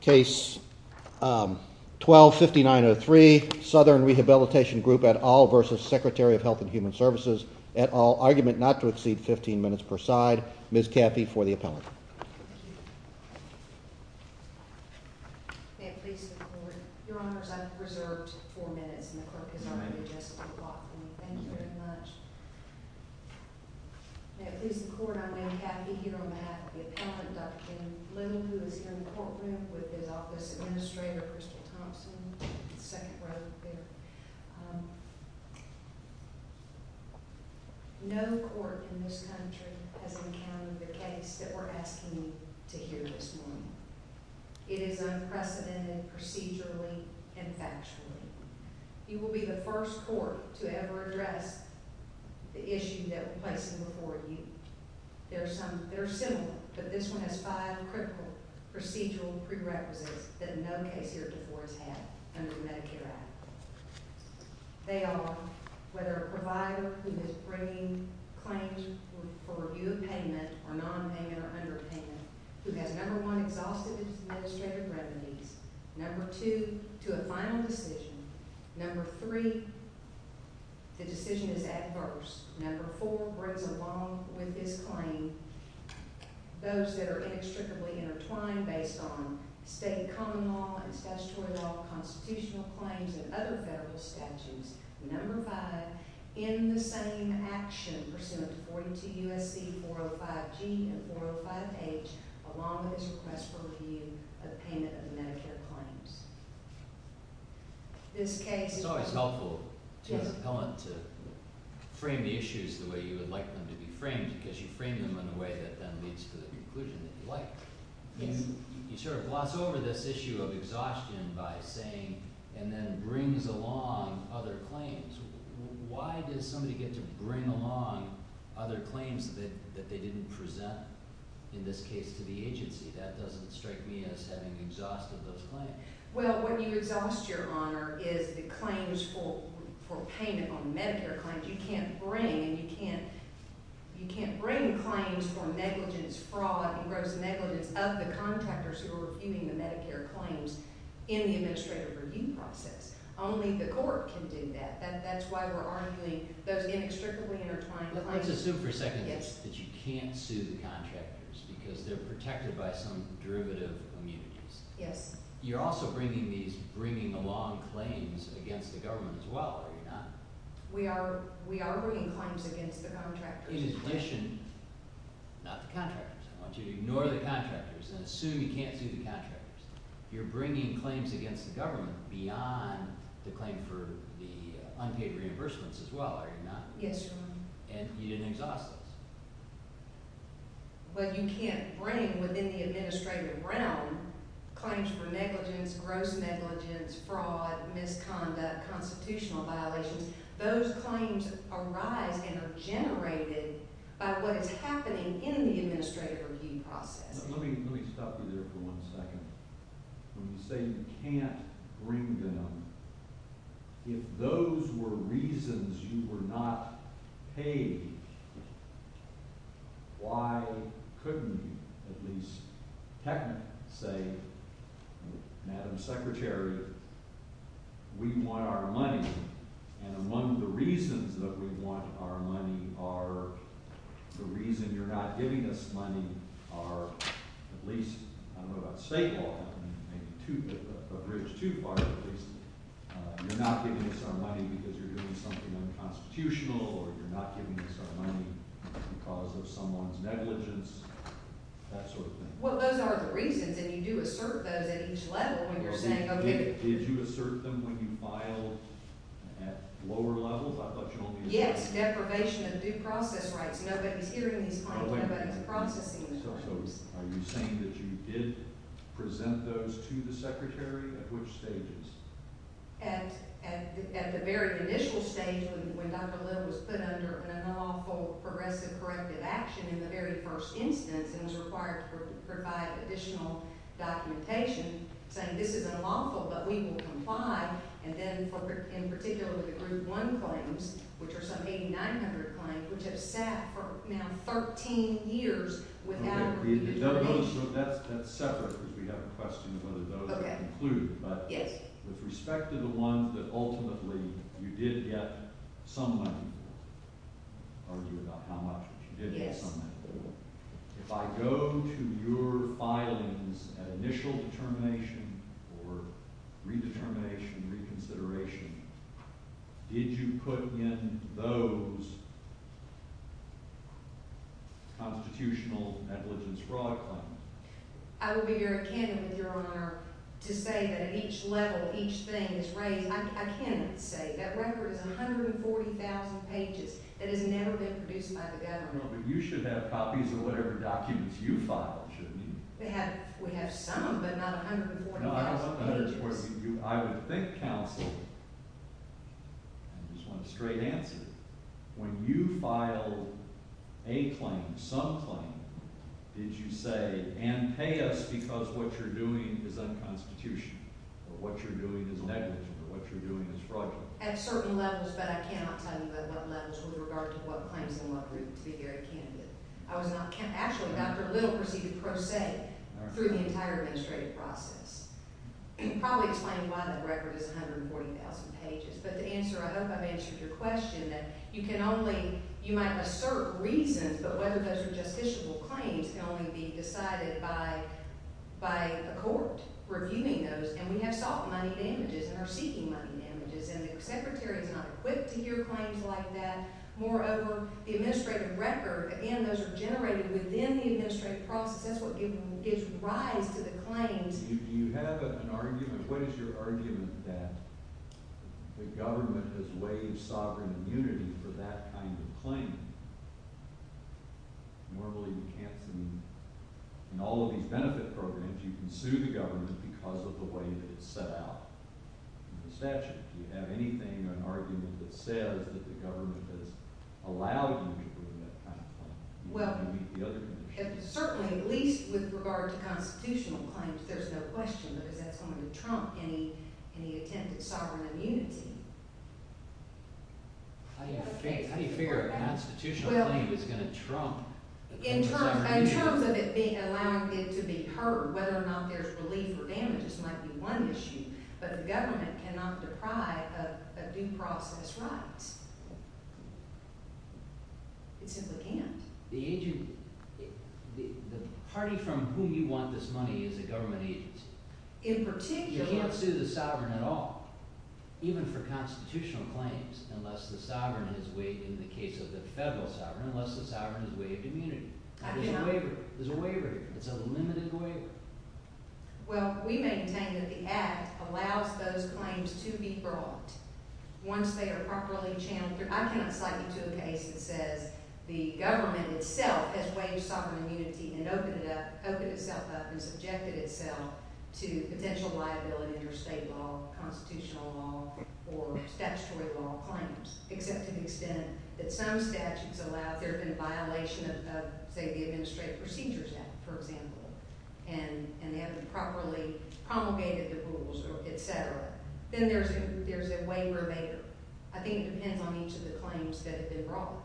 Case 12-5903, Southern Rehabilitation Group et al. v. Secretary of Health and Human Services et al. Argument not to exceed 15 minutes per side. Ms. Caffey for the appellant. May it please the Court, Your Honors, I've reserved four minutes and the clerk has already adjusted the clock for me. Thank you very much. May it please the Court, I'm Anne Caffey here on behalf of the appellant, Dr. Jim Bloom, who is here in the courtroom with his office administrator, Crystal Thompson, second row there. No court in this country has encountered the case that we're asking you to hear this morning. It is unprecedented procedurally and factually. You will be the first court to ever address the issue that we're placing before you. There are some that are similar, but this one has five critical procedural prerequisites that no case here before has had under the Medicare Act. They are, whether a provider who is bringing claims for review of payment or nonpayment or underpayment, who has, number one, exhausted his administrative revenues, number two, to a final decision, number three, the decision is adverse, number four, brings along with his claim those that are inextricably intertwined based on state common law and statutory law, constitutional claims, and other federal statutes, number five, in the same action, pursuant to 42 U.S.C. 405G and 405H, along with his request for review of payment of the Medicare claims. It's always helpful as an appellant to frame the issues the way you would like them to be framed, because you frame them in a way that then leads to the conclusion that you like. You sort of gloss over this issue of exhaustion by saying, and then brings along other claims. Why does somebody get to bring along other claims that they didn't present, in this case, to the agency? That doesn't strike me as having exhausted those claims. Well, what you exhaust, Your Honor, is the claims for payment on Medicare claims. You can't bring, and you can't bring claims for negligence, fraud, and gross negligence of the contractors who are reviewing the Medicare claims in the administrative review process. Only the court can do that. That's why we're arguing those inextricably intertwined claims. Let's assume for a second that you can't sue the contractors because they're protected by some derivative immunities. Yes. You're also bringing these – bringing along claims against the government as well, are you not? We are bringing claims against the contractors. In addition – not the contractors. I want you to ignore the contractors and assume you can't sue the contractors. You're bringing claims against the government beyond the claim for the unpaid reimbursements as well, are you not? Yes, Your Honor. And you didn't exhaust those. But you can't bring within the administrative realm claims for negligence, gross negligence, fraud, misconduct, constitutional violations. Those claims arise and are generated by what is happening in the administrative review process. Let me stop you there for one second. When you say you can't bring them, if those were reasons you were not paid, why couldn't you at least technically say, Madam Secretary, we want our money. And among the reasons that we want our money are the reason you're not giving us money are at least – I don't know about state law, but maybe a bridge too far at least. You're not giving us our money because you're doing something unconstitutional or you're not giving us our money because of someone's negligence, that sort of thing. Well, those are the reasons, and you do assert those at each level when you're saying – Did you assert them when you filed at lower levels? I thought you only – Yes, deprivation of due process rights. Nobody's hearing these claims. Nobody's processing these claims. So are you saying that you did present those to the Secretary? At which stages? At the very initial stage when Dr. Little was put under an unlawful progressive corrective action in the very first instance and was required to provide additional documentation, saying this is unlawful but we will comply, and then in particular the Group 1 claims, which are some 8,900 claims, which have sat for now 13 years without – That's separate because we have a question of whether those are included, but with respect to the ones that ultimately you did get some money for, argue about how much, but you did get some money for, if I go to your filings at initial determination or redetermination, reconsideration, did you put in those constitutional negligence fraud claims? I will be very candid with Your Honor to say that at each level, each thing is raised – I cannot say. That record is 140,000 pages. It has never been produced by the government. No, but you should have copies of whatever documents you filed, shouldn't you? We have some, but not 140,000 pages. I would think counsel – I just want a straight answer – when you filed a claim, some claim, did you say, and pay us because what you're doing is unconstitutional or what you're doing is negligent or what you're doing is fraudulent? At certain levels, but I cannot tell you at what levels with regard to what claims and what group, to be very candid. I was not – actually, Dr. Little proceeded pro se through the entire administrative process. You probably explained why the record is 140,000 pages, but to answer – I hope I've answered your question that you can only – you might assert reasons, but whether those are justiciable claims can only be decided by a court reviewing those. And we have sought money damages and are seeking money damages, and the Secretary is not equipped to hear claims like that. Moreover, the administrative record – again, those are generated within the administrative process. That's what gives rise to the claims. Do you have an argument – what is your argument that the government has waived sovereign immunity for that kind of claim? Normally, we can't see – in all of these benefit programs, you can sue the government because of the way that it's set out in the statute. Do you have anything or an argument that says that the government has allowed you to do that kind of claim? Well, certainly, at least with regard to constitutional claims, there's no question because that's going to trump any attempt at sovereign immunity. How do you figure a constitutional claim is going to trump – In terms of it being – allowing it to be heard, whether or not there's relief or damages might be one issue. But the government cannot deprive a due process right. It simply can't. The agent – the party from whom you want this money is a government agency. In particular – You can't sue the sovereign at all, even for constitutional claims, unless the sovereign has waived – in the case of the federal sovereign – unless the sovereign has waived immunity. There's a waiver. There's a waiver. It's a limited waiver. Well, we maintain that the Act allows those claims to be brought once they are properly channeled. I cannot cite you to a case that says the government itself has waived sovereign immunity and opened it up – opened itself up and subjected itself to potential liability under state law, constitutional law, or statutory law claims, except to the extent that some statutes allow – there have been a violation of, say, the Administrative Procedures Act, for example. And they haven't properly promulgated the rules, et cetera. Then there's a waiver of aid. I think it depends on each of the claims that have been brought.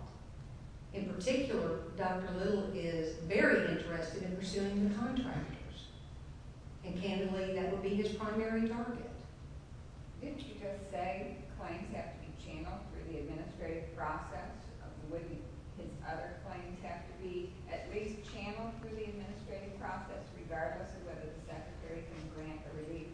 In particular, Dr. Little is very interested in pursuing the contractors. And candidly, that would be his primary target. Didn't you just say claims have to be channeled through the administrative process? Wouldn't his other claims have to be at least channeled through the administrative process, regardless of whether the Secretary can grant a relief?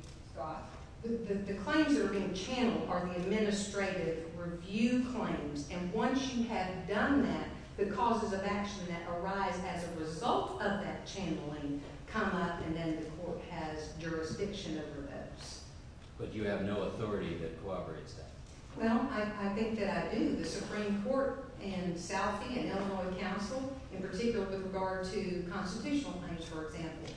The claims that are being channeled are the administrative review claims. And once you have done that, the causes of action that arise as a result of that channeling come up, and then the court has jurisdiction over those. But you have no authority that cooperates that? Well, I think that I do. The Supreme Court in Southie and Illinois Council, in particular with regard to constitutional claims, for example,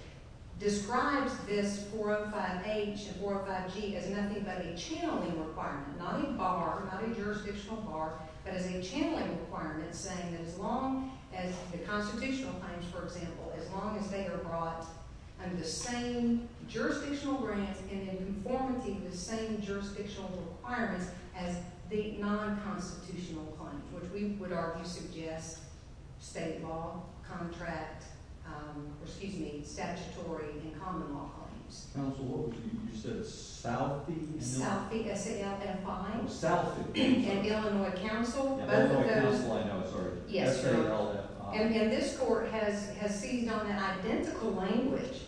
describes this 405H and 405G as nothing but a channeling requirement, not a bar, not a jurisdictional bar, but as a channeling requirement saying that as long as the constitutional claims, for example, as long as they are brought under the same jurisdictional grant and in conformity with the same jurisdictional requirements as the non-constitutional claims, which we would argue suggests state law, contract, or excuse me, statutory and common law claims. Council, you said Southie? Southie, S-A-L-F-I. Southie. And Illinois Council, both of those. Illinois Council, I know, sorry. S-A-L-F-I. And this court has seized on that identical language,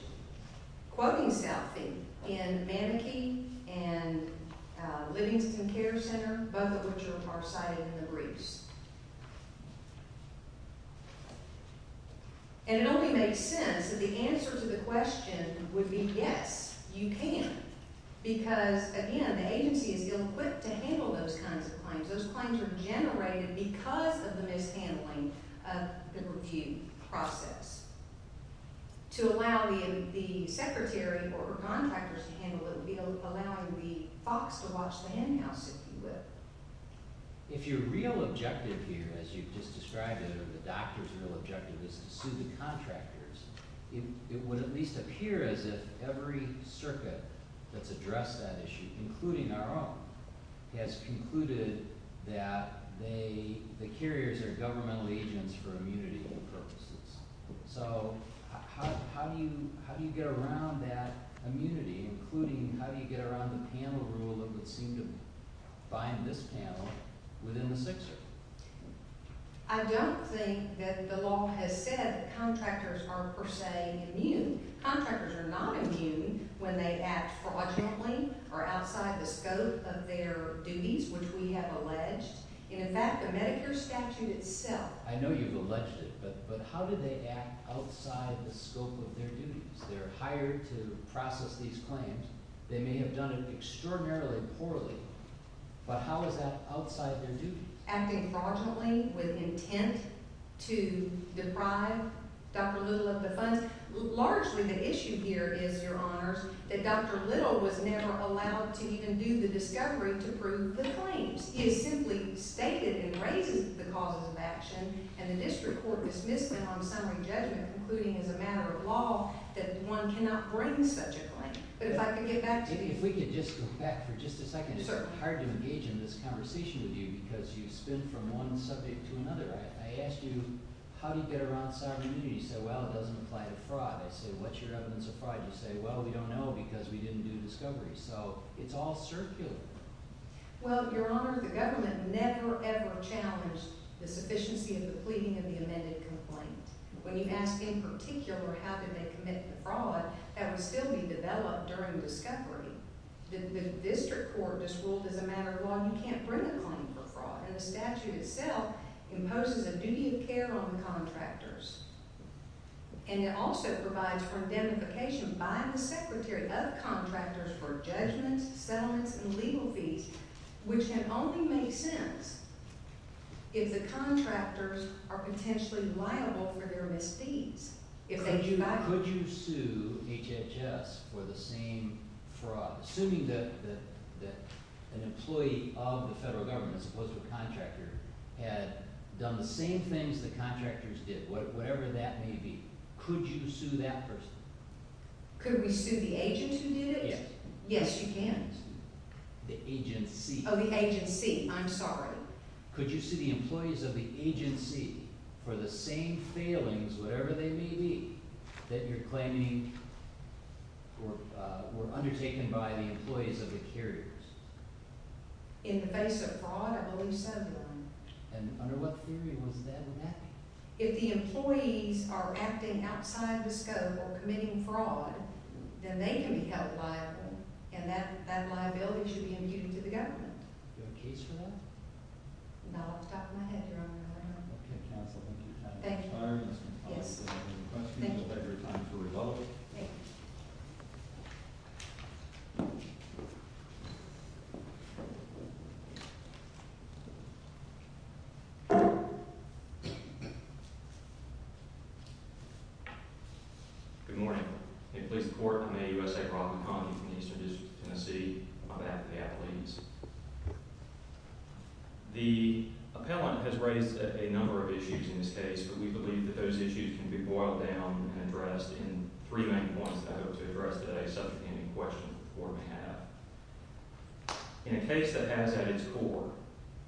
quoting Southie, in Manakee and Livingston Care Center, both of which are cited in the briefs. And it only makes sense that the answers to the question would be yes, you can, because, again, the agency is ill-equipped to handle those kinds of claims. Those claims are generated because of the mishandling of the review process. To allow the secretary or contractors to handle it would be allowing the fox to watch the henhouse, if you will. If your real objective here, as you've just described it, or the doctor's real objective, is to sue the contractors, it would at least appear as if every circuit that's addressed that issue, including our own, has concluded that the carriers are governmental agents for immunity purposes. So how do you get around that immunity, including how do you get around the panel rule that would seem to bind this panel within the Sixth Circuit? I don't think that the law has said that contractors are per se immune. Contractors are not immune when they act fraudulently or outside the scope of their duties, which we have alleged. And, in fact, the Medicare statute itself… I know you've alleged it, but how do they act outside the scope of their duties? They're hired to process these claims. They may have done it extraordinarily poorly, but how is that outside their duties? Acting fraudulently with intent to deprive Dr. Little of the funds? Largely, the issue here is, Your Honors, that Dr. Little was never allowed to even do the discovery to prove the claims. He has simply stated and raised the causes of action, and the district court dismissed them on summary judgment, concluding as a matter of law that one cannot bring such a claim. But if I could get back to you… If we could just go back for just a second. It's hard to engage in this conversation with you because you spin from one subject to another. I asked you, how do you get around sovereign immunity? You said, well, it doesn't apply to fraud. I said, what's your evidence of fraud? You said, well, we don't know because we didn't do discovery. So it's all circular. Well, Your Honor, the government never, ever challenged the sufficiency of the pleading of the amended complaint. When you ask in particular how did they commit the fraud, that would still be developed during discovery. The district court just ruled as a matter of law you can't bring a claim for fraud. And the statute itself imposes a duty of care on the contractors. And it also provides for indemnification by the secretary of contractors for judgments, settlements, and legal fees, which can only make sense if the contractors are potentially liable for their misdeeds. Could you sue HHS for the same fraud? Assuming that an employee of the federal government, as opposed to a contractor, had done the same things the contractors did, whatever that may be. Could you sue that person? Could we sue the agent who did it? Yes. Yes, you can. The agency. Oh, the agency. I'm sorry. Could you sue the employees of the agency for the same failings, whatever they may be, that you're claiming were undertaken by the employees of the carriers? In the face of fraud? I believe so, Your Honor. And under what theory was that enacted? If the employees are acting outside the scope of committing fraud, then they can be held liable, and that liability should be immuted to the government. Do you have a case for that? Not off the top of my head, Your Honor. Okay, counsel, thank you. Thank you. Yes. Thank you. Thank you. Thank you. I'm a U.S. Acrobat McConkey from the Eastern District of Tennessee. I'm an athlete. The appellant has raised a number of issues in this case, but we believe that those issues can be boiled down and addressed in three main points that I hope to address today, subject to any question the court may have. In a case that has at its core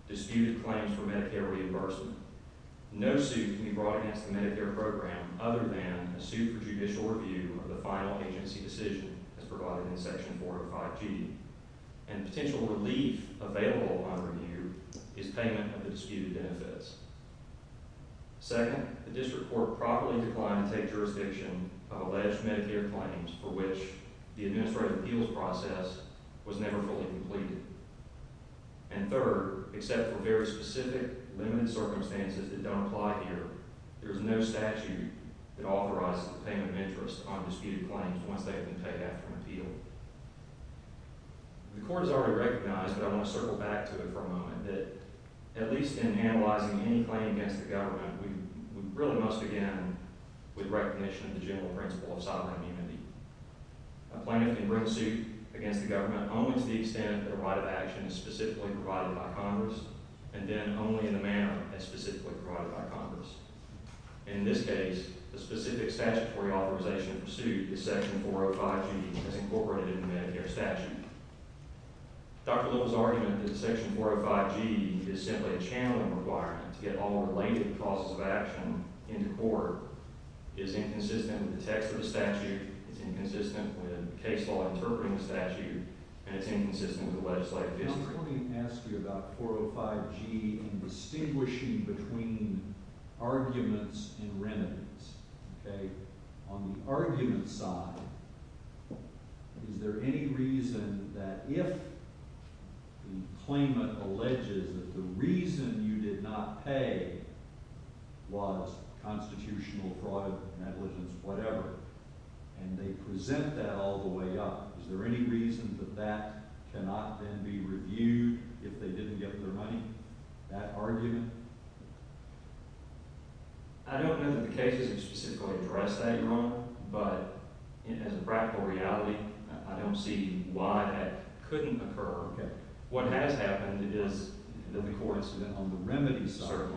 disputed claims for Medicare reimbursement, no suit can be brought against the Medicare program other than a suit for judicial review of the final agency decision as provided in Section 405G. And potential relief available on review is payment of the disputed benefits. Second, the district court probably declined to take jurisdiction of alleged Medicare claims for which the administrative appeals process was never fully completed. And third, except for very specific, limited circumstances that don't apply here, there is no statute that authorizes the payment of interest on disputed claims once they have been paid after an appeal. The court has already recognized, but I want to circle back to it for a moment, that at least in analyzing any claim against the government, we really must begin with recognition of the general principle of sovereign immunity. A plaintiff can bring a suit against the government only to the extent that a right of action is specifically provided by Congress, and then only in the manner as specifically provided by Congress. In this case, the specific statutory authorization of the suit is Section 405G, as incorporated in the Medicare statute. Dr. Little's argument that Section 405G is simply a channeling requirement to get all related causes of action into court is inconsistent with the text of the statute, it's inconsistent with the case law interpreting the statute, and it's inconsistent with the legislative history. Let me ask you about 405G and distinguishing between arguments and remedies. On the argument side, is there any reason that if the claimant alleges that the reason you did not pay was constitutional fraud, negligence, whatever, and they present that all the way up, is there any reason that that cannot then be reviewed if they didn't get their money? That argument? I don't know that the cases have specifically addressed that, Your Honor, but as a practical reality, I don't see why that couldn't occur. Okay. What has happened is, in the court incident, on the remedy side,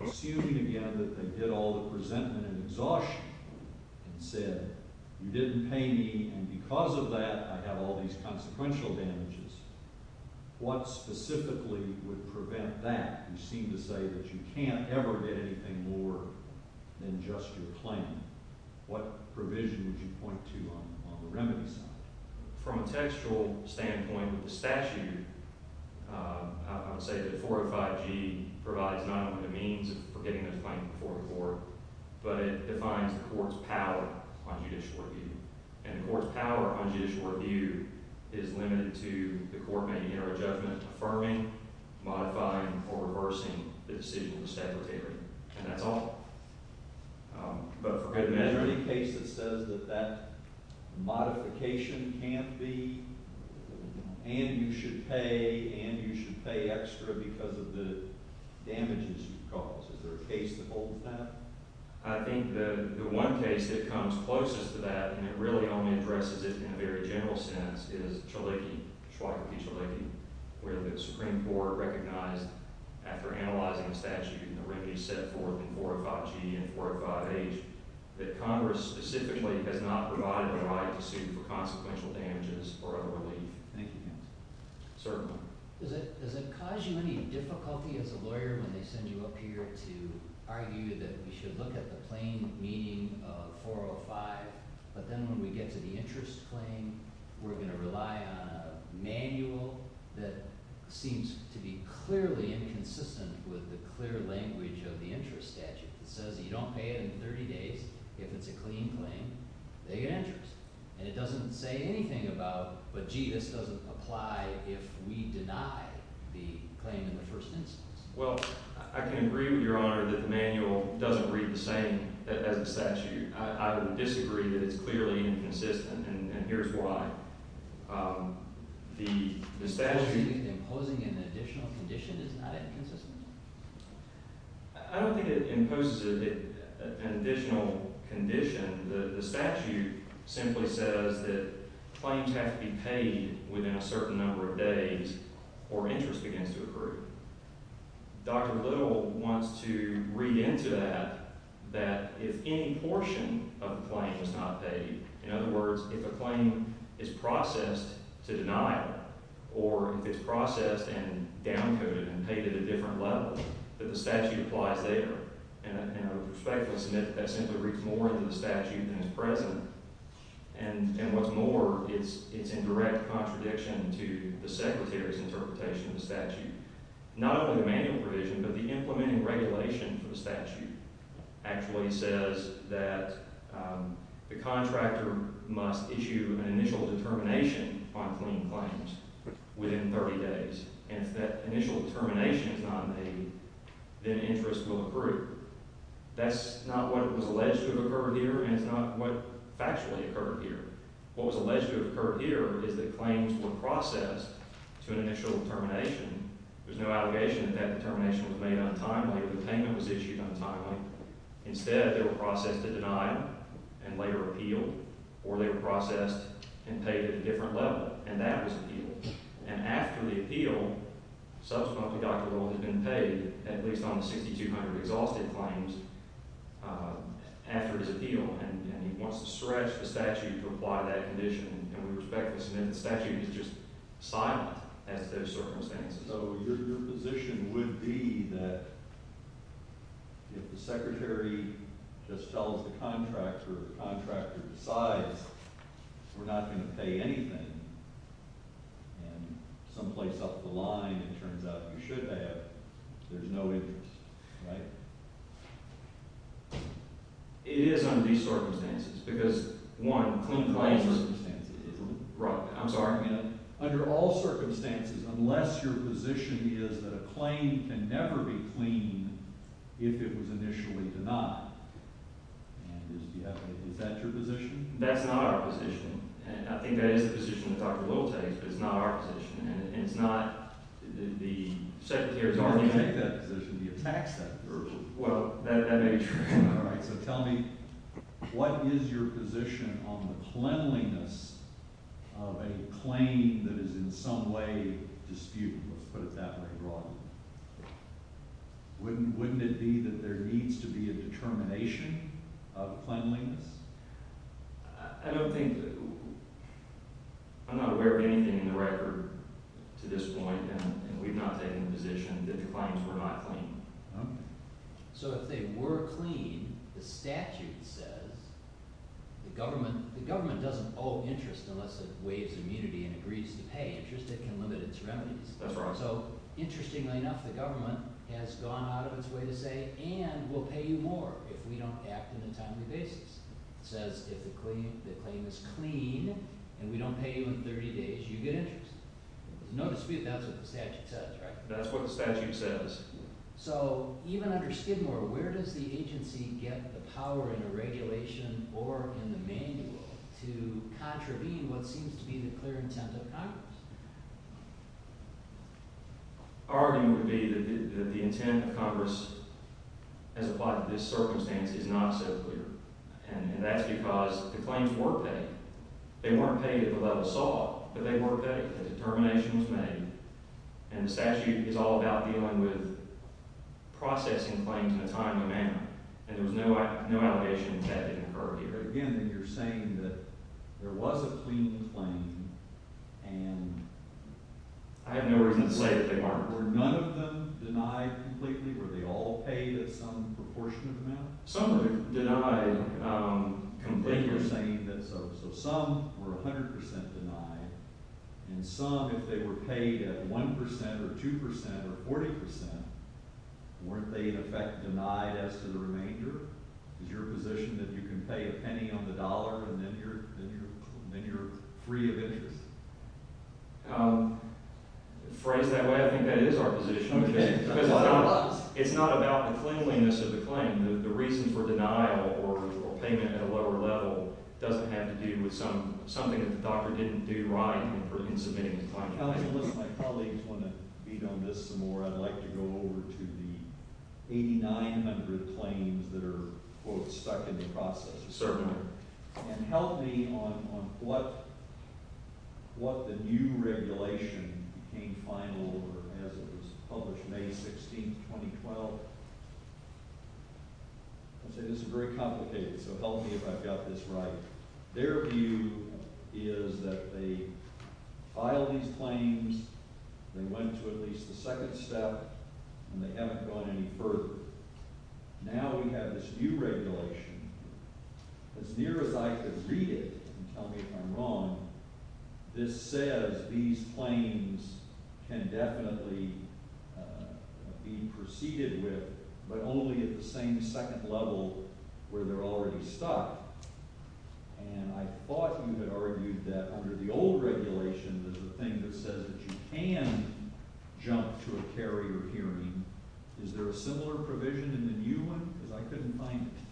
assuming again that they did all the presentment and exhaustion and said, you didn't pay me, and because of that, I have all these consequential damages, what specifically would prevent that? You seem to say that you can't ever get anything more than just your claim. What provision would you point to on the remedy side? From a textual standpoint, with the statute, I would say that 405G provides not only the means for getting this claim before the court, but it defines the court's power on judicial review. And the court's power on judicial review is limited to the court making error of judgment, affirming, modifying, or reversing the decision of the statutory. And that's all. Is there any case that says that that modification can't be, and you should pay, and you should pay extra because of the damages you've caused? Is there a case that holds that? I think the one case that comes closest to that, and it really only addresses it in a very general sense, is Chaliki, Schwake v. Chaliki, where the Supreme Court recognized, after analyzing the statute and the remedy set forth in 405G and 405H, that Congress specifically has not provided the right to sue for consequential damages or other relief. Thank you, counsel. Certainly. Does it cause you any difficulty as a lawyer when they send you up here to argue that we should look at the plain meaning of 405, but then when we get to the interest claim, we're going to rely on a manual that seems to be clearly inconsistent with the clear language of the interest statute? It says that you don't pay it in 30 days. If it's a clean claim, they get interest. And it doesn't say anything about, but gee, this doesn't apply if we deny the claim in the first instance. Well, I can agree with Your Honor that the manual doesn't read the same as the statute. I would disagree that it's clearly inconsistent, and here's why. The statute… Do you think imposing an additional condition is not inconsistent? I don't think it imposes an additional condition. The statute simply says that claims have to be paid within a certain number of days or interest begins to accrue. Dr. Little wants to read into that that if any portion of the claim is not paid, in other words, if a claim is processed to deny it or if it's processed and downcoded and paid at a different level, that the statute applies there. And I would respectfully submit that that simply reads more into the statute than is present. And what's more, it's in direct contradiction to the Secretary's interpretation of the statute. Not only the manual provision, but the implementing regulation for the statute actually says that the contractor must issue an initial determination on clean claims within 30 days. And if that initial determination is not made, then interest will accrue. That's not what was alleged to have occurred here, and it's not what factually occurred here. What was alleged to have occurred here is that claims were processed to an initial determination. There's no allegation that that determination was made untimely or the payment was issued untimely. Instead, they were processed to deny and later appealed, or they were processed and paid at a different level, and that was appealed. And after the appeal, subsequently Dr. Rowland has been paid at least on the 6,200 exhausted claims after his appeal, and he wants to stretch the statute to apply that condition. And we respectfully submit the statute is just silent as to those circumstances. So your position would be that if the Secretary just tells the contractor, the contractor decides we're not going to pay anything, and someplace off the line it turns out you should pay it, there's no interest, right? It is under these circumstances because, one, clean claims circumstances. I'm sorry? Under all circumstances, unless your position is that a claim can never be cleaned if it was initially denied. Is that your position? That's not our position. I think that is the position that Dr. Little takes, but it's not our position, and it's not the Secretary's position. You don't take that position. He attacks that position. Well, that may be true. All right, so tell me, what is your position on the cleanliness of a claim that is in some way disputable, let's put it that way broadly? Wouldn't it be that there needs to be a determination of cleanliness? I don't think – I'm not aware of anything in the record to this point, and we've not taken the position that the claims were not clean. Okay. So if they were clean, the statute says the government doesn't owe interest unless it waives immunity and agrees to pay interest. It can limit its remedies. That's right. So, interestingly enough, the government has gone out of its way to say, and we'll pay you more if we don't act on a timely basis. It says if the claim is clean and we don't pay you in 30 days, you get interest. There's no dispute that's what the statute says, right? That's what the statute says. So even under Skidmore, where does the agency get the power in the regulation or in the manual to contravene what seems to be the clear intent of Congress? My argument would be that the intent of Congress as applied to this circumstance is not so clear, and that's because the claims were paid. They weren't paid at the level sought, but they were paid. A determination was made, and the statute is all about dealing with processing claims in a timely manner. And there was no allegation that that didn't occur here. But again, you're saying that there was a clean claim, and… I have no reason to say that they weren't. Were none of them denied completely? Were they all paid at some proportionate amount? Some were denied completely. So some were 100 percent denied, and some, if they were paid at 1 percent or 2 percent or 40 percent, weren't they in effect denied as to the remainder? Is your position that you can pay a penny on the dollar and then you're free of interest? Phrased that way, I think that is our position. It's not about the cleanliness of the claim. The reason for denial or payment at a lower level doesn't have to do with something that the doctor didn't do right in submitting the claim. My colleagues want to beat on this some more. I'd like to go over to the 8,900 claims that are stuck in the process. Certainly. And help me on what the new regulation came final over as it was published May 16, 2012. I'll say this is very complicated, so help me if I've got this right. Their view is that they filed these claims, they went to at least the second step, and they haven't gone any further. Now we have this new regulation. As near as I could read it, and tell me if I'm wrong, this says these claims can definitely be proceeded with, but only at the same second level where they're already stuck. And I thought you had argued that under the old regulation there's a thing that says that you can jump to a carrier hearing. Is there a similar provision in the new one? Because I couldn't find it.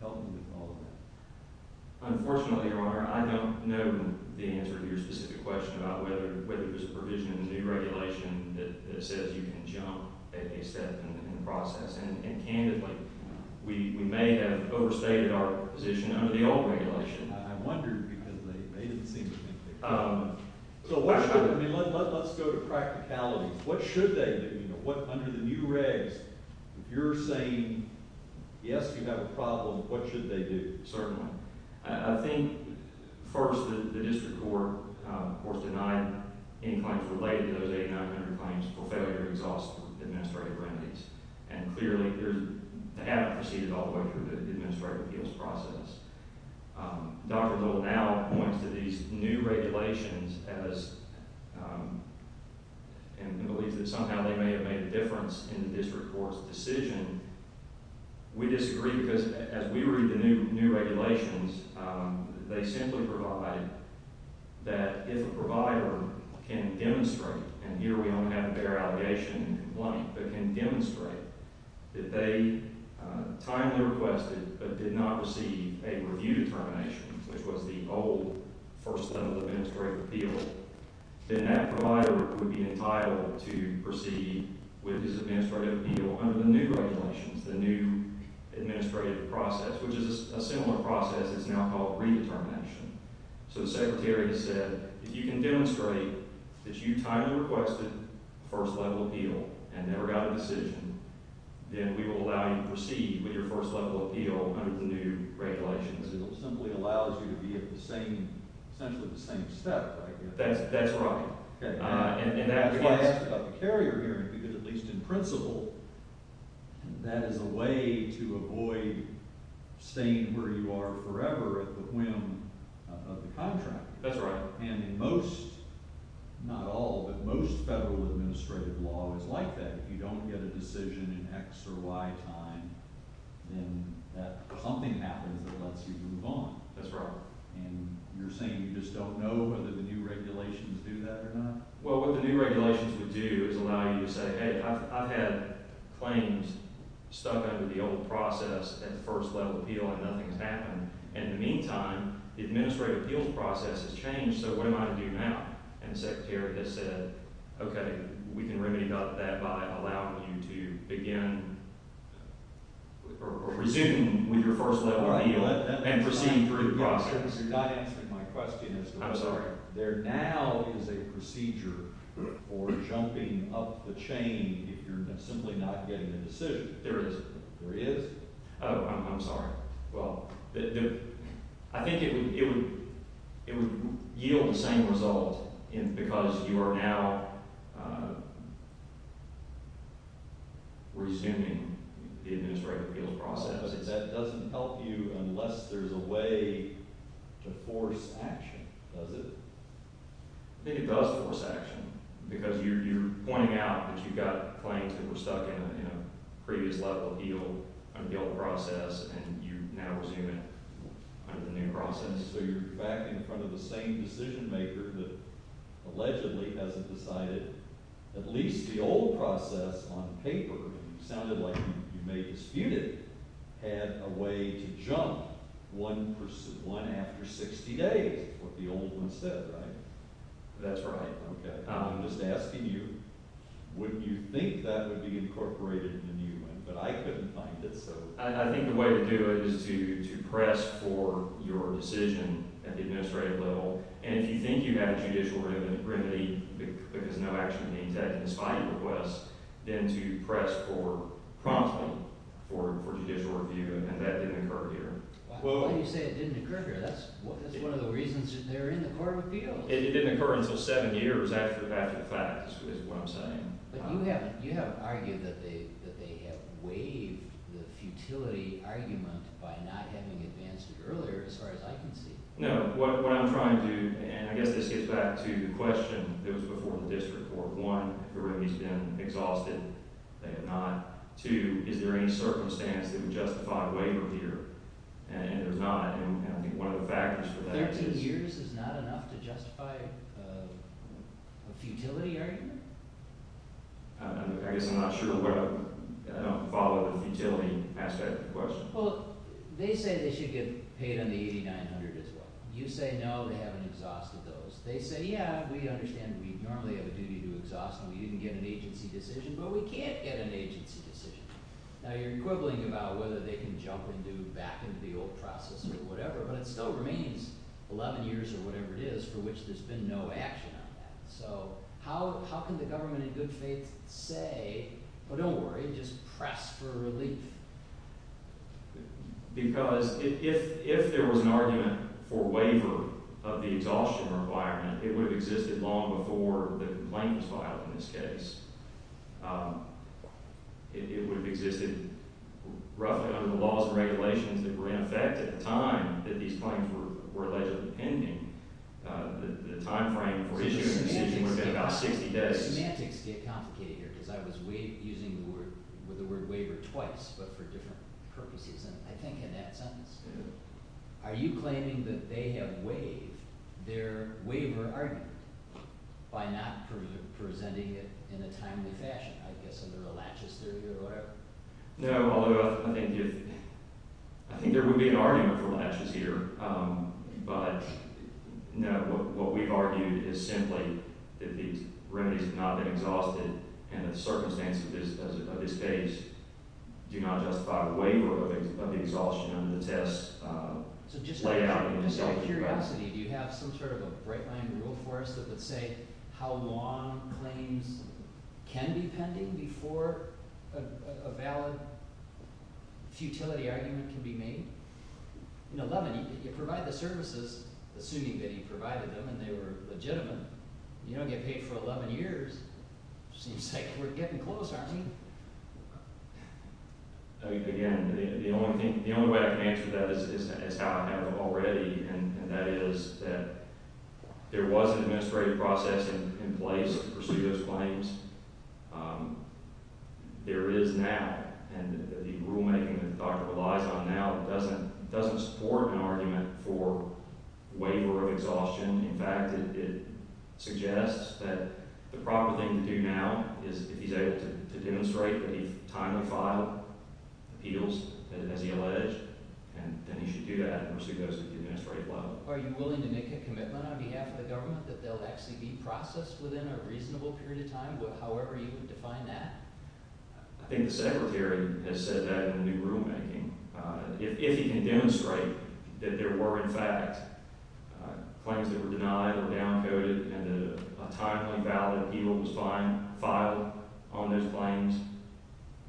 Help me with all of that. Unfortunately, Your Honor, I don't know the answer to your specific question about whether there's a provision in the new regulation that says you can jump at a step in the process. And candidly, we may have overstated our position under the old regulation. I wondered because they made it seem as if they could. So let's go to practicalities. What should they do? Under the new regs, if you're saying, yes, you have a problem, what should they do? Certainly. I think, first, the district court, of course, denied any claims related to those 8900 claims for failure to exhaust administrative remedies. And clearly, they haven't proceeded all the way through the administrative appeals process. Dr. Dole now points to these new regulations and believes that somehow they may have made a difference in the district court's decision. We disagree because as we read the new regulations, they simply provide that if a provider can demonstrate, and here we only have a fair allegation in complaint, but can demonstrate that they timely requested but did not receive a review determination, which was the old first level of administrative appeal, then that provider would be entitled to proceed with his administrative appeal under the new regulations, the new administrative process, which is a similar process that's now called redetermination. So the secretary has said, if you can demonstrate that you timely requested first level appeal and never got a decision, then we will allow you to proceed with your first level appeal under the new regulations. It simply allows you to be at the same – essentially the same step, right? That's right. Okay. And that's why I asked about the carrier hearing, because at least in principle, that is a way to avoid staying where you are forever at the whim of the contract. That's right. And in most – not all, but most federal administrative law is like that. If you don't get a decision in X or Y time, then something happens that lets you move on. That's right. And you're saying you just don't know whether the new regulations do that or not? Well, what the new regulations would do is allow you to say, hey, I've had claims stuck under the old process at first level appeal and nothing's happened, and in the meantime, the administrative appeals process has changed, so what am I to do now? And the secretary just said, okay, we can remedy that by allowing you to begin or resume with your first level appeal and proceed through the process. You're not answering my question. I'm sorry. There now is a procedure for jumping up the chain if you're simply not getting a decision. There isn't. There is. Oh, I'm sorry. Well, I think it would yield the same result because you are now resuming the administrative appeals process. That doesn't help you unless there's a way to force action, does it? I think it does force action because you're pointing out that you've got claims that were stuck in a previous level appeal under the old process and you now resume it under the new process. So you're back in front of the same decision maker that allegedly hasn't decided at least the old process on paper, and you sounded like you may dispute it, had a way to jump one after 60 days, what the old one said, right? That's right. Okay. Now I'm just asking you, wouldn't you think that would be incorporated in the new one? But I couldn't find it, so. I think the way to do it is to press for your decision at the administrative level, and if you think you have a judicial remedy because no action is being taken despite your request, then to press for – promptly for judicial review, and that didn't occur here. Why do you say it didn't occur here? That's one of the reasons they're in the court of appeals. It didn't occur until seven years after the fact is what I'm saying. But you have argued that they have waived the futility argument by not having advanced it earlier as far as I can see. No. What I'm trying to – and I guess this gets back to the question that was before the district court. One, the remedy's been exhausted. They have not. Two, is there any circumstance that would justify a waiver here? And there's not, and I think one of the factors for that is – A futility argument? I guess I'm not sure what – I don't follow the futility aspect of the question. Well, they say they should get paid on the $8,900 as well. You say no, they haven't exhausted those. They say, yeah, we understand we normally have a duty to exhaust them. We didn't get an agency decision, but we can't get an agency decision. Now, you're quibbling about whether they can jump back into the old process or whatever, but it still remains 11 years or whatever it is for which there's been no action on that. So how can the government in good faith say, oh, don't worry, just press for relief? Because if there was an argument for waiver of the exhaustion requirement, it would have existed long before the complaint was filed in this case. It would have existed roughly under the laws and regulations that were in effect at the time that these claims were allegedly pending. The timeframe for issuing the decision would have been about 60 days. So the semantics get complicated here because I was using the word waiver twice but for different purposes, I think, in that sentence. Are you claiming that they have waived their waiver argument by not presenting it in a timely fashion, I guess under a laches theory or whatever? No, although I think there would be an argument for laches here. But no, what we've argued is simply that these remedies have not been exhausted and the circumstances of this case do not justify the waiver of the exhaustion under the test. So just out of curiosity, do you have some sort of a bright-line rule for us that would say how long claims can be pending before a valid futility argument can be made? In 11, you provide the services assuming that he provided them and they were legitimate. You don't get paid for 11 years. It seems like we're getting close, aren't we? Again, the only way I can answer that is how I have already, and that is that there was an administrative process in place to pursue those claims. There is now, and the rulemaking that Dr. relies on now doesn't support an argument for waiver of exhaustion. In fact, it suggests that the proper thing to do now is if he's able to demonstrate that he's time to file appeals as he alleged, then he should do that and pursue those at the administrative level. Are you willing to make a commitment on behalf of the government that they'll actually be processed within a reasonable period of time, however you would define that? I think the Secretary has said that in the new rulemaking. If he can demonstrate that there were, in fact, claims that were denied or downcoded and that a timely, valid appeal was filed on those claims,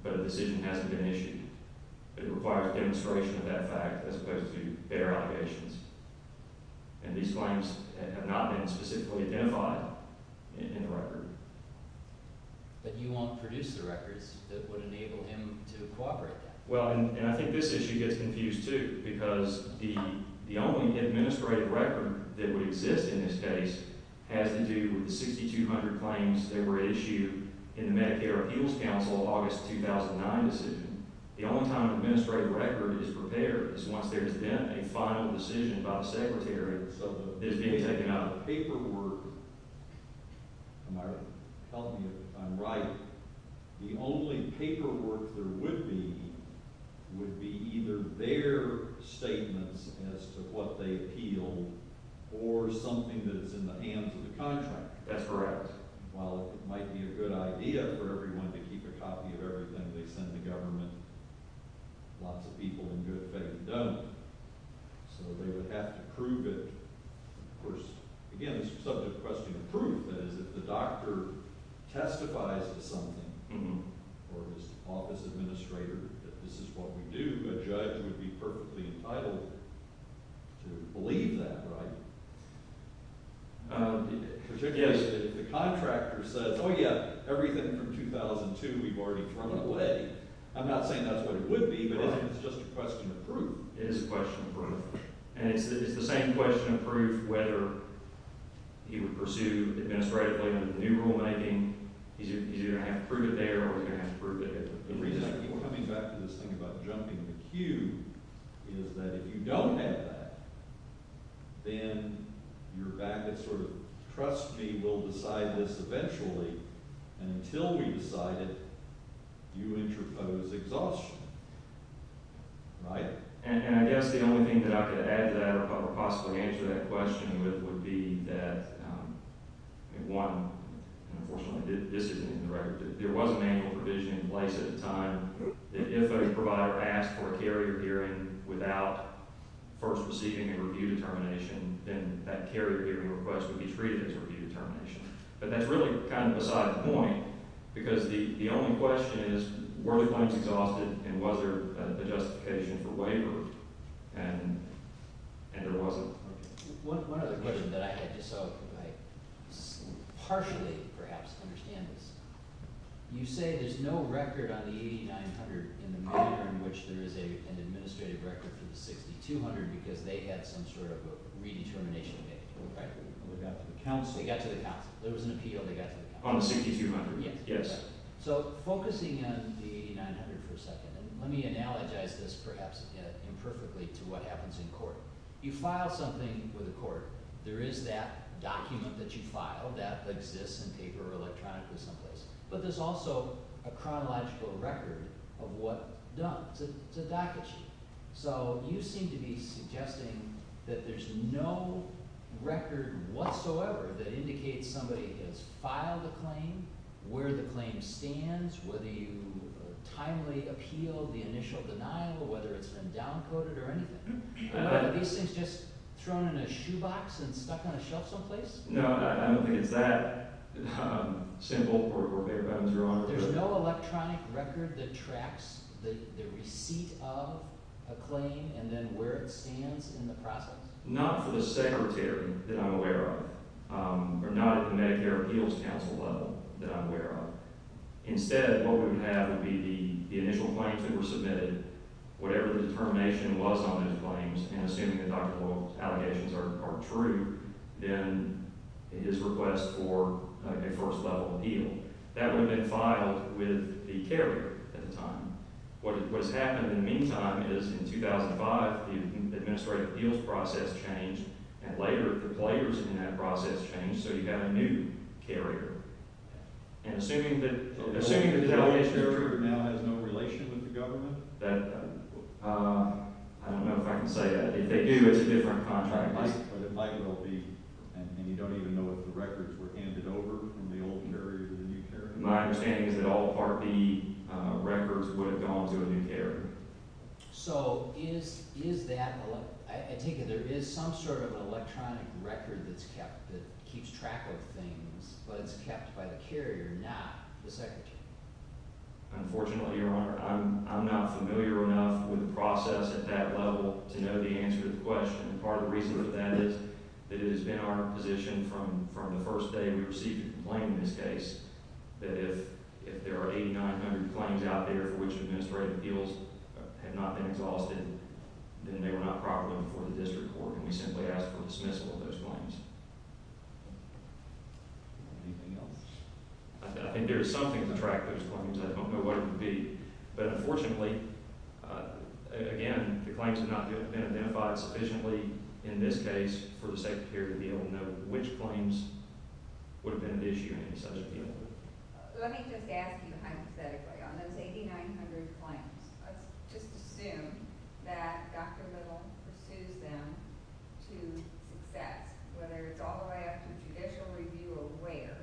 but a decision hasn't been issued, it requires demonstration of that fact as opposed to bare allegations. And these claims have not been specifically identified in the record. But you won't produce the records that would enable him to cooperate then? Well, and I think this issue gets confused, too, because the only administrative record that would exist in this case has to do with the 6,200 claims that were issued in the Medicare Appeals Council August 2009 decision. The only time an administrative record is prepared is once there's been a final decision by the Secretary that is being taken out of the paperwork. Am I right? Tell me if I'm right. The only paperwork there would be would be either their statements as to what they appealed or something that is in the hands of the contract. That's correct. Well, it might be a good idea for everyone to keep a copy of everything they send the government. Lots of people, in good faith, don't. So they would have to prove it. Of course, again, this is a subject question of proof. That is, if the doctor testifies to something or his office administrator that this is what we do, a judge would be perfectly entitled to believe that, right? Yes. Particularly if the contractor says, oh, yeah, everything from 2002 we've already thrown away. I'm not saying that's what it would be, but it's just a question of proof. It is a question of proof. And it's the same question of proof whether he would pursue administratively under the new rulemaking. He's either going to have to prove it there or he's going to have to prove it here. The reason I keep coming back to this thing about jumping the queue is that if you don't have that, then you're back at sort of trust me, we'll decide this eventually. And until we decide it, you interpose exhaustion, right? And I guess the only thing that I could add to that or possibly answer that question with would be that, one, and unfortunately this isn't in the record, but there was a manual provision in place at the time that if a provider asked for a carrier hearing without first receiving a review determination, then that carrier hearing request would be treated as a review determination. But that's really kind of a side point because the only question is were the claims exhausted and was there a justification for waiver? And there wasn't. Okay. One other question that I had just so I partially perhaps understand this. You say there's no record on the 8900 in the manner in which there is an administrative record for the 6200 because they had some sort of a redetermination date, right? They got to the council. They got to the council. There was an appeal. They got to the council. On the 6200. Yes. So focusing on the 8900 for a second, let me analogize this perhaps imperfectly to what happens in court. You file something with a court. There is that document that you file that exists in paper or electronically someplace, but there's also a chronological record of what's done. It's a docket sheet. So you seem to be suggesting that there's no record whatsoever that indicates somebody has filed a claim, where the claim stands, whether you timely appeal the initial denial, whether it's been down-coded or anything. Are these things just thrown in a shoebox and stuck on a shelf someplace? No, I don't think it's that simple for a paper. There's no electronic record that tracks the receipt of a claim and then where it stands in the process? Not for the secretary that I'm aware of or not at the Medicare Appeals Council level that I'm aware of. Instead, what we would have would be the initial claims that were submitted, whatever the determination was on those claims, and assuming that Dr. Boyle's allegations are true, then his request for a first-level appeal. That would have been filed with the carrier at the time. What has happened in the meantime is in 2005, the administrative appeals process changed, and later the players in that process changed, so you got a new carrier. And assuming that the allegations are true— So the old carrier now has no relation with the government? I don't know if I can say that. If they do, it's a different contract. But it might well be, and you don't even know if the records were handed over from the old carrier to the new carrier. My understanding is that all Part B records would have gone to a new carrier. So is that—I take it there is some sort of electronic record that's kept that keeps track of things, but it's kept by the carrier, not the secretary? Unfortunately, Your Honor, I'm not familiar enough with the process at that level to know the answer to the question. Part of the reason for that is that it has been our position from the first day we received a complaint in this case that if there are 8,900 claims out there for which administrative appeals have not been exhausted, then they were not properly before the district court, and we simply asked for a dismissal of those claims. Anything else? I think there is something to track those claims. I don't know what it would be. But unfortunately, again, the claims have not been identified sufficiently in this case for the secretary to be able to know which claims would have been at issue in any such appeal. Let me just ask you hypothetically. On those 8,900 claims, let's just assume that Dr. Little pursues them to success, whether it's all the way up to judicial review or where,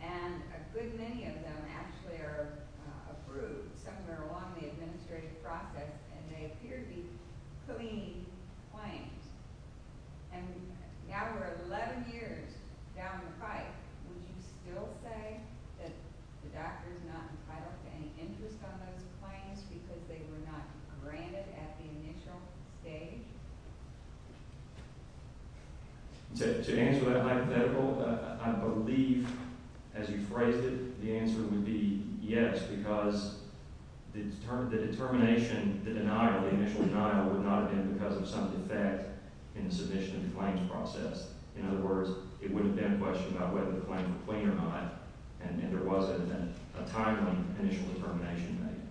and a good many of them actually are approved, some of them are along the administrative process, and they appear to be clean claims. And now we're 11 years down the pike. Would you still say that the doctor is not entitled to any interest on those claims because they were not granted at the initial stage? To answer that hypothetical, I believe, as you phrased it, the answer would be yes, because the determination, the denial, the initial denial would not have been because of some defect in the submission of the claims process. In other words, it wouldn't have been a question about whether the claim was clean or not, and there wasn't a timely initial determination made.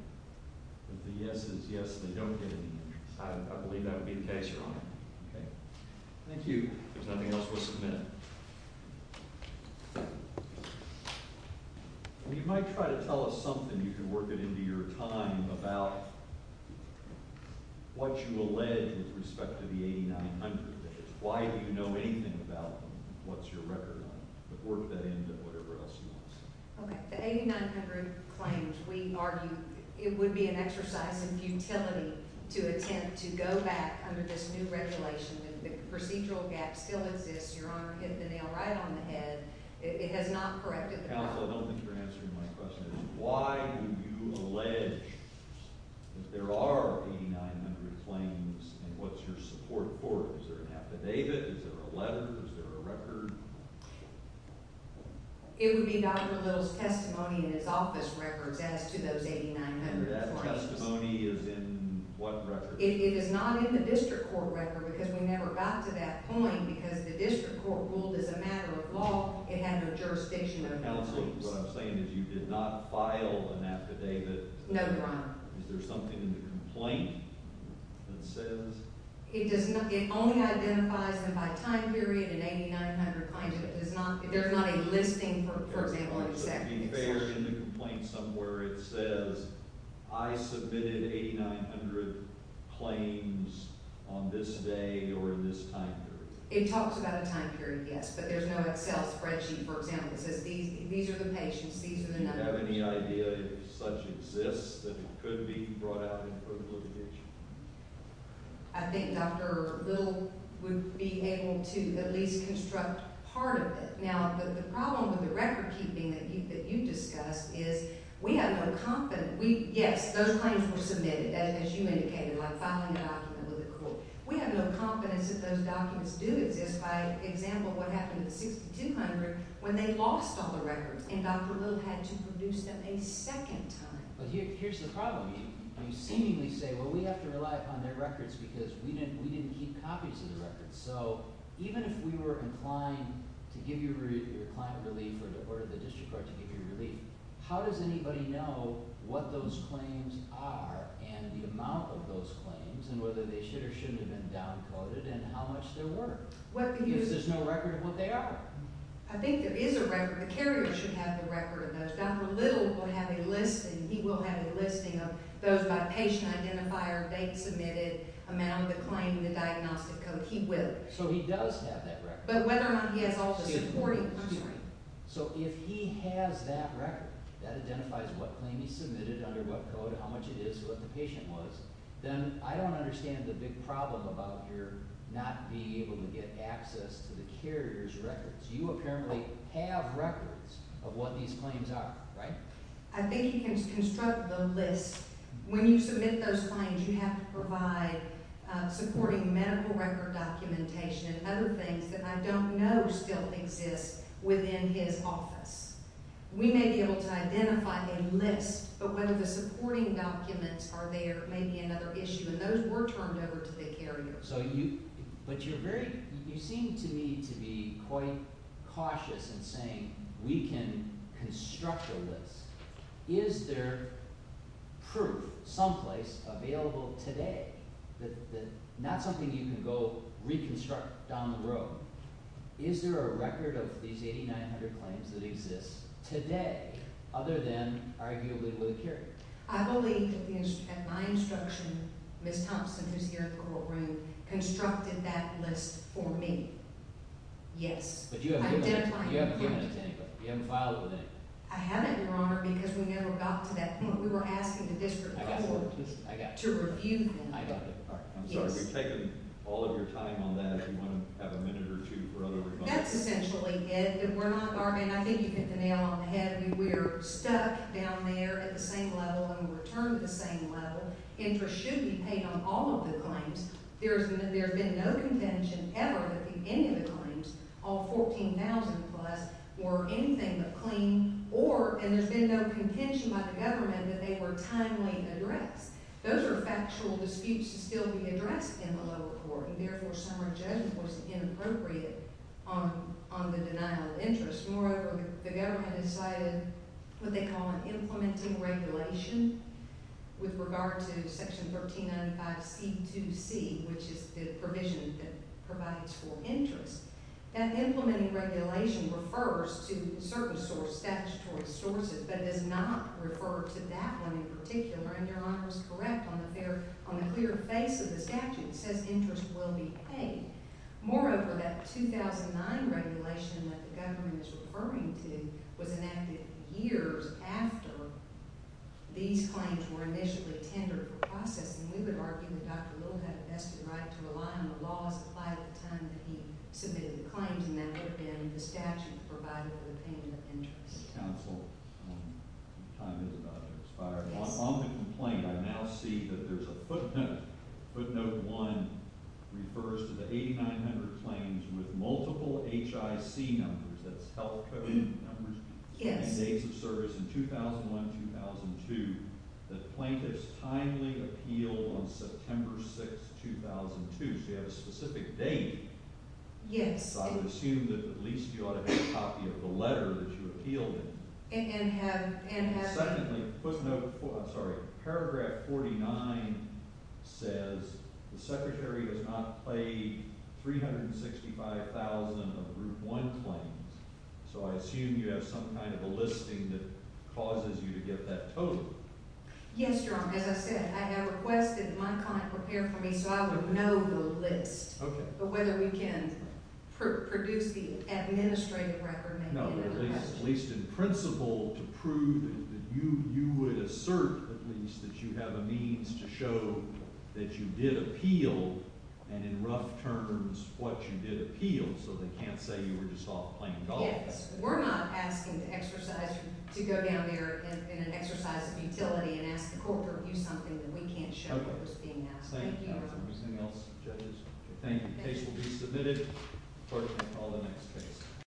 But the yes is yes, they don't get any interest. I believe that would be the case, Your Honor. Thank you. If there's nothing else, we'll submit it. You might try to tell us something, if you work it into your time, about what you allege with respect to the 8,900. Why do you know anything about them? What's your record on them? But work that into whatever else you want to say. Okay. The 8,900 claims, we argue it would be an exercise in futility to attempt to go back under this new regulation. If the procedural gap still exists, Your Honor hit the nail right on the head. It has not corrected the problem. Counsel, I don't think you're answering my question. Why would you allege that there are 8,900 claims, and what's your support for it? Is there an affidavit? Is there a letter? Is there a record? It would be Dr. Little's testimony in his office records as to those 8,900 claims. And that testimony is in what record? It is not in the district court record because we never got to that point because the district court ruled as a matter of law it had no jurisdiction over the claims. Counsel, what I'm saying is you did not file an affidavit. No, Your Honor. Is there something in the complaint that says? It only identifies them by time period and 8,900 claims. There's not a listing, for example, in the statute. In the complaint somewhere it says, I submitted 8,900 claims on this day or in this time period. It talks about a time period, yes, but there's no Excel spreadsheet, for example, that says these are the patients, these are the numbers. Do you have any idea if such exists that it could be brought out in a criminal division? I think Dr. Little would be able to at least construct part of it. Now, the problem with the recordkeeping that you discussed is we have no confidence. Yes, those claims were submitted, as you indicated, by filing a document with the court. We have no confidence that those documents do exist. By example, what happened with 6,200 when they lost all the records and Dr. Little had to produce them a second time. But here's the problem. You seemingly say, well, we have to rely upon their records because we didn't keep copies of the records. So even if we were inclined to give your client relief or the district court to give you relief, how does anybody know what those claims are and the amount of those claims and whether they should or shouldn't have been downcoded and how much there were? Because there's no record of what they are. I think there is a record. The carrier should have the record of those. Dr. Little will have a listing. He will have a listing of those by patient identifier, date submitted, amount of the claim, the diagnostic code. He will. So he does have that record. But whether or not he has all the supporting – I'm sorry. So if he has that record, that identifies what claim he submitted, under what code, how much it is, what the patient was, then I don't understand the big problem about your not being able to get access to the carrier's records. You apparently have records of what these claims are, right? I think you can construct the list. When you submit those claims, you have to provide supporting medical record documentation and other things that I don't know still exist within his office. We may be able to identify a list, but whether the supporting documents are there may be another issue, and those were turned over to the carrier. So you – but you're very – you seem to me to be quite cautious in saying we can construct a list. Is there proof someplace available today that – not something you can go reconstruct down the road. Is there a record of these 8,900 claims that exist today other than arguably with a carrier? I believe at my instruction Ms. Thompson, who's here in the courtroom, constructed that list for me. Yes. But you haven't given it to anybody. I've identified it. You haven't filed it with anybody. I haven't, Your Honor, because we never got to that point. We were asking the district court to review them. I got it. I'm sorry. We've taken all of your time on that. Do you want to have a minute or two for other remarks? That's essentially it. We're not bargaining. I think you hit the nail on the head. We are stuck down there at the same level and we return to the same level. Interest should be paid on all of the claims. There's been no contention ever that any of the claims, all 14,000 plus, were anything but clean or – and there's been no contention by the government that they were timely addressed. Those are factual disputes that still need to be addressed in the lower court, and therefore some are judged as inappropriate on the denial of interest. Moreover, the government has cited what they call an implementing regulation with regard to Section 1395C2C, which is the provision that provides for interest. That implementing regulation refers to certain statutory sources but does not refer to that one in particular, and Your Honor is correct on the clear face of the statute. It says interest will be paid. Moreover, that 2009 regulation that the government is referring to was enacted years after these claims were initially tendered for process, and we would argue that Dr. Little had a vested right to rely on the laws applied at the time that he submitted the claims, and that would have been the statute provided for the payment of interest. Counsel, time is about to expire. Yes. On the complaint, I now see that there's a footnote. Footnote 1 refers to the 8,900 claims with multiple HIC numbers – that's health code numbers – and days of service in 2001-2002 that plaintiffs timely appealed on September 6, 2002. So you have a specific date. Yes. So I would assume that at least you ought to have a copy of the letter that you appealed in. And have – Oh, I'm sorry. Paragraph 49 says the secretary does not pay 365,000 of Group 1 claims, so I assume you have some kind of a listing that causes you to get that total. Yes, Your Honor. As I said, I have requested my client prepare for me so I would know the list. Okay. But whether we can produce the administrative record may be another question. At least in principle to prove that you would assert at least that you have a means to show that you did appeal, and in rough terms what you did appeal, so they can't say you were just off playing golf. Yes. We're not asking to exercise – to go down there in an exercise of utility and ask the court to review something that we can't show what was being asked. Okay. Thank you, Your Honor. Anything else, judges? Thank you. The case will be submitted. Court may call the next case.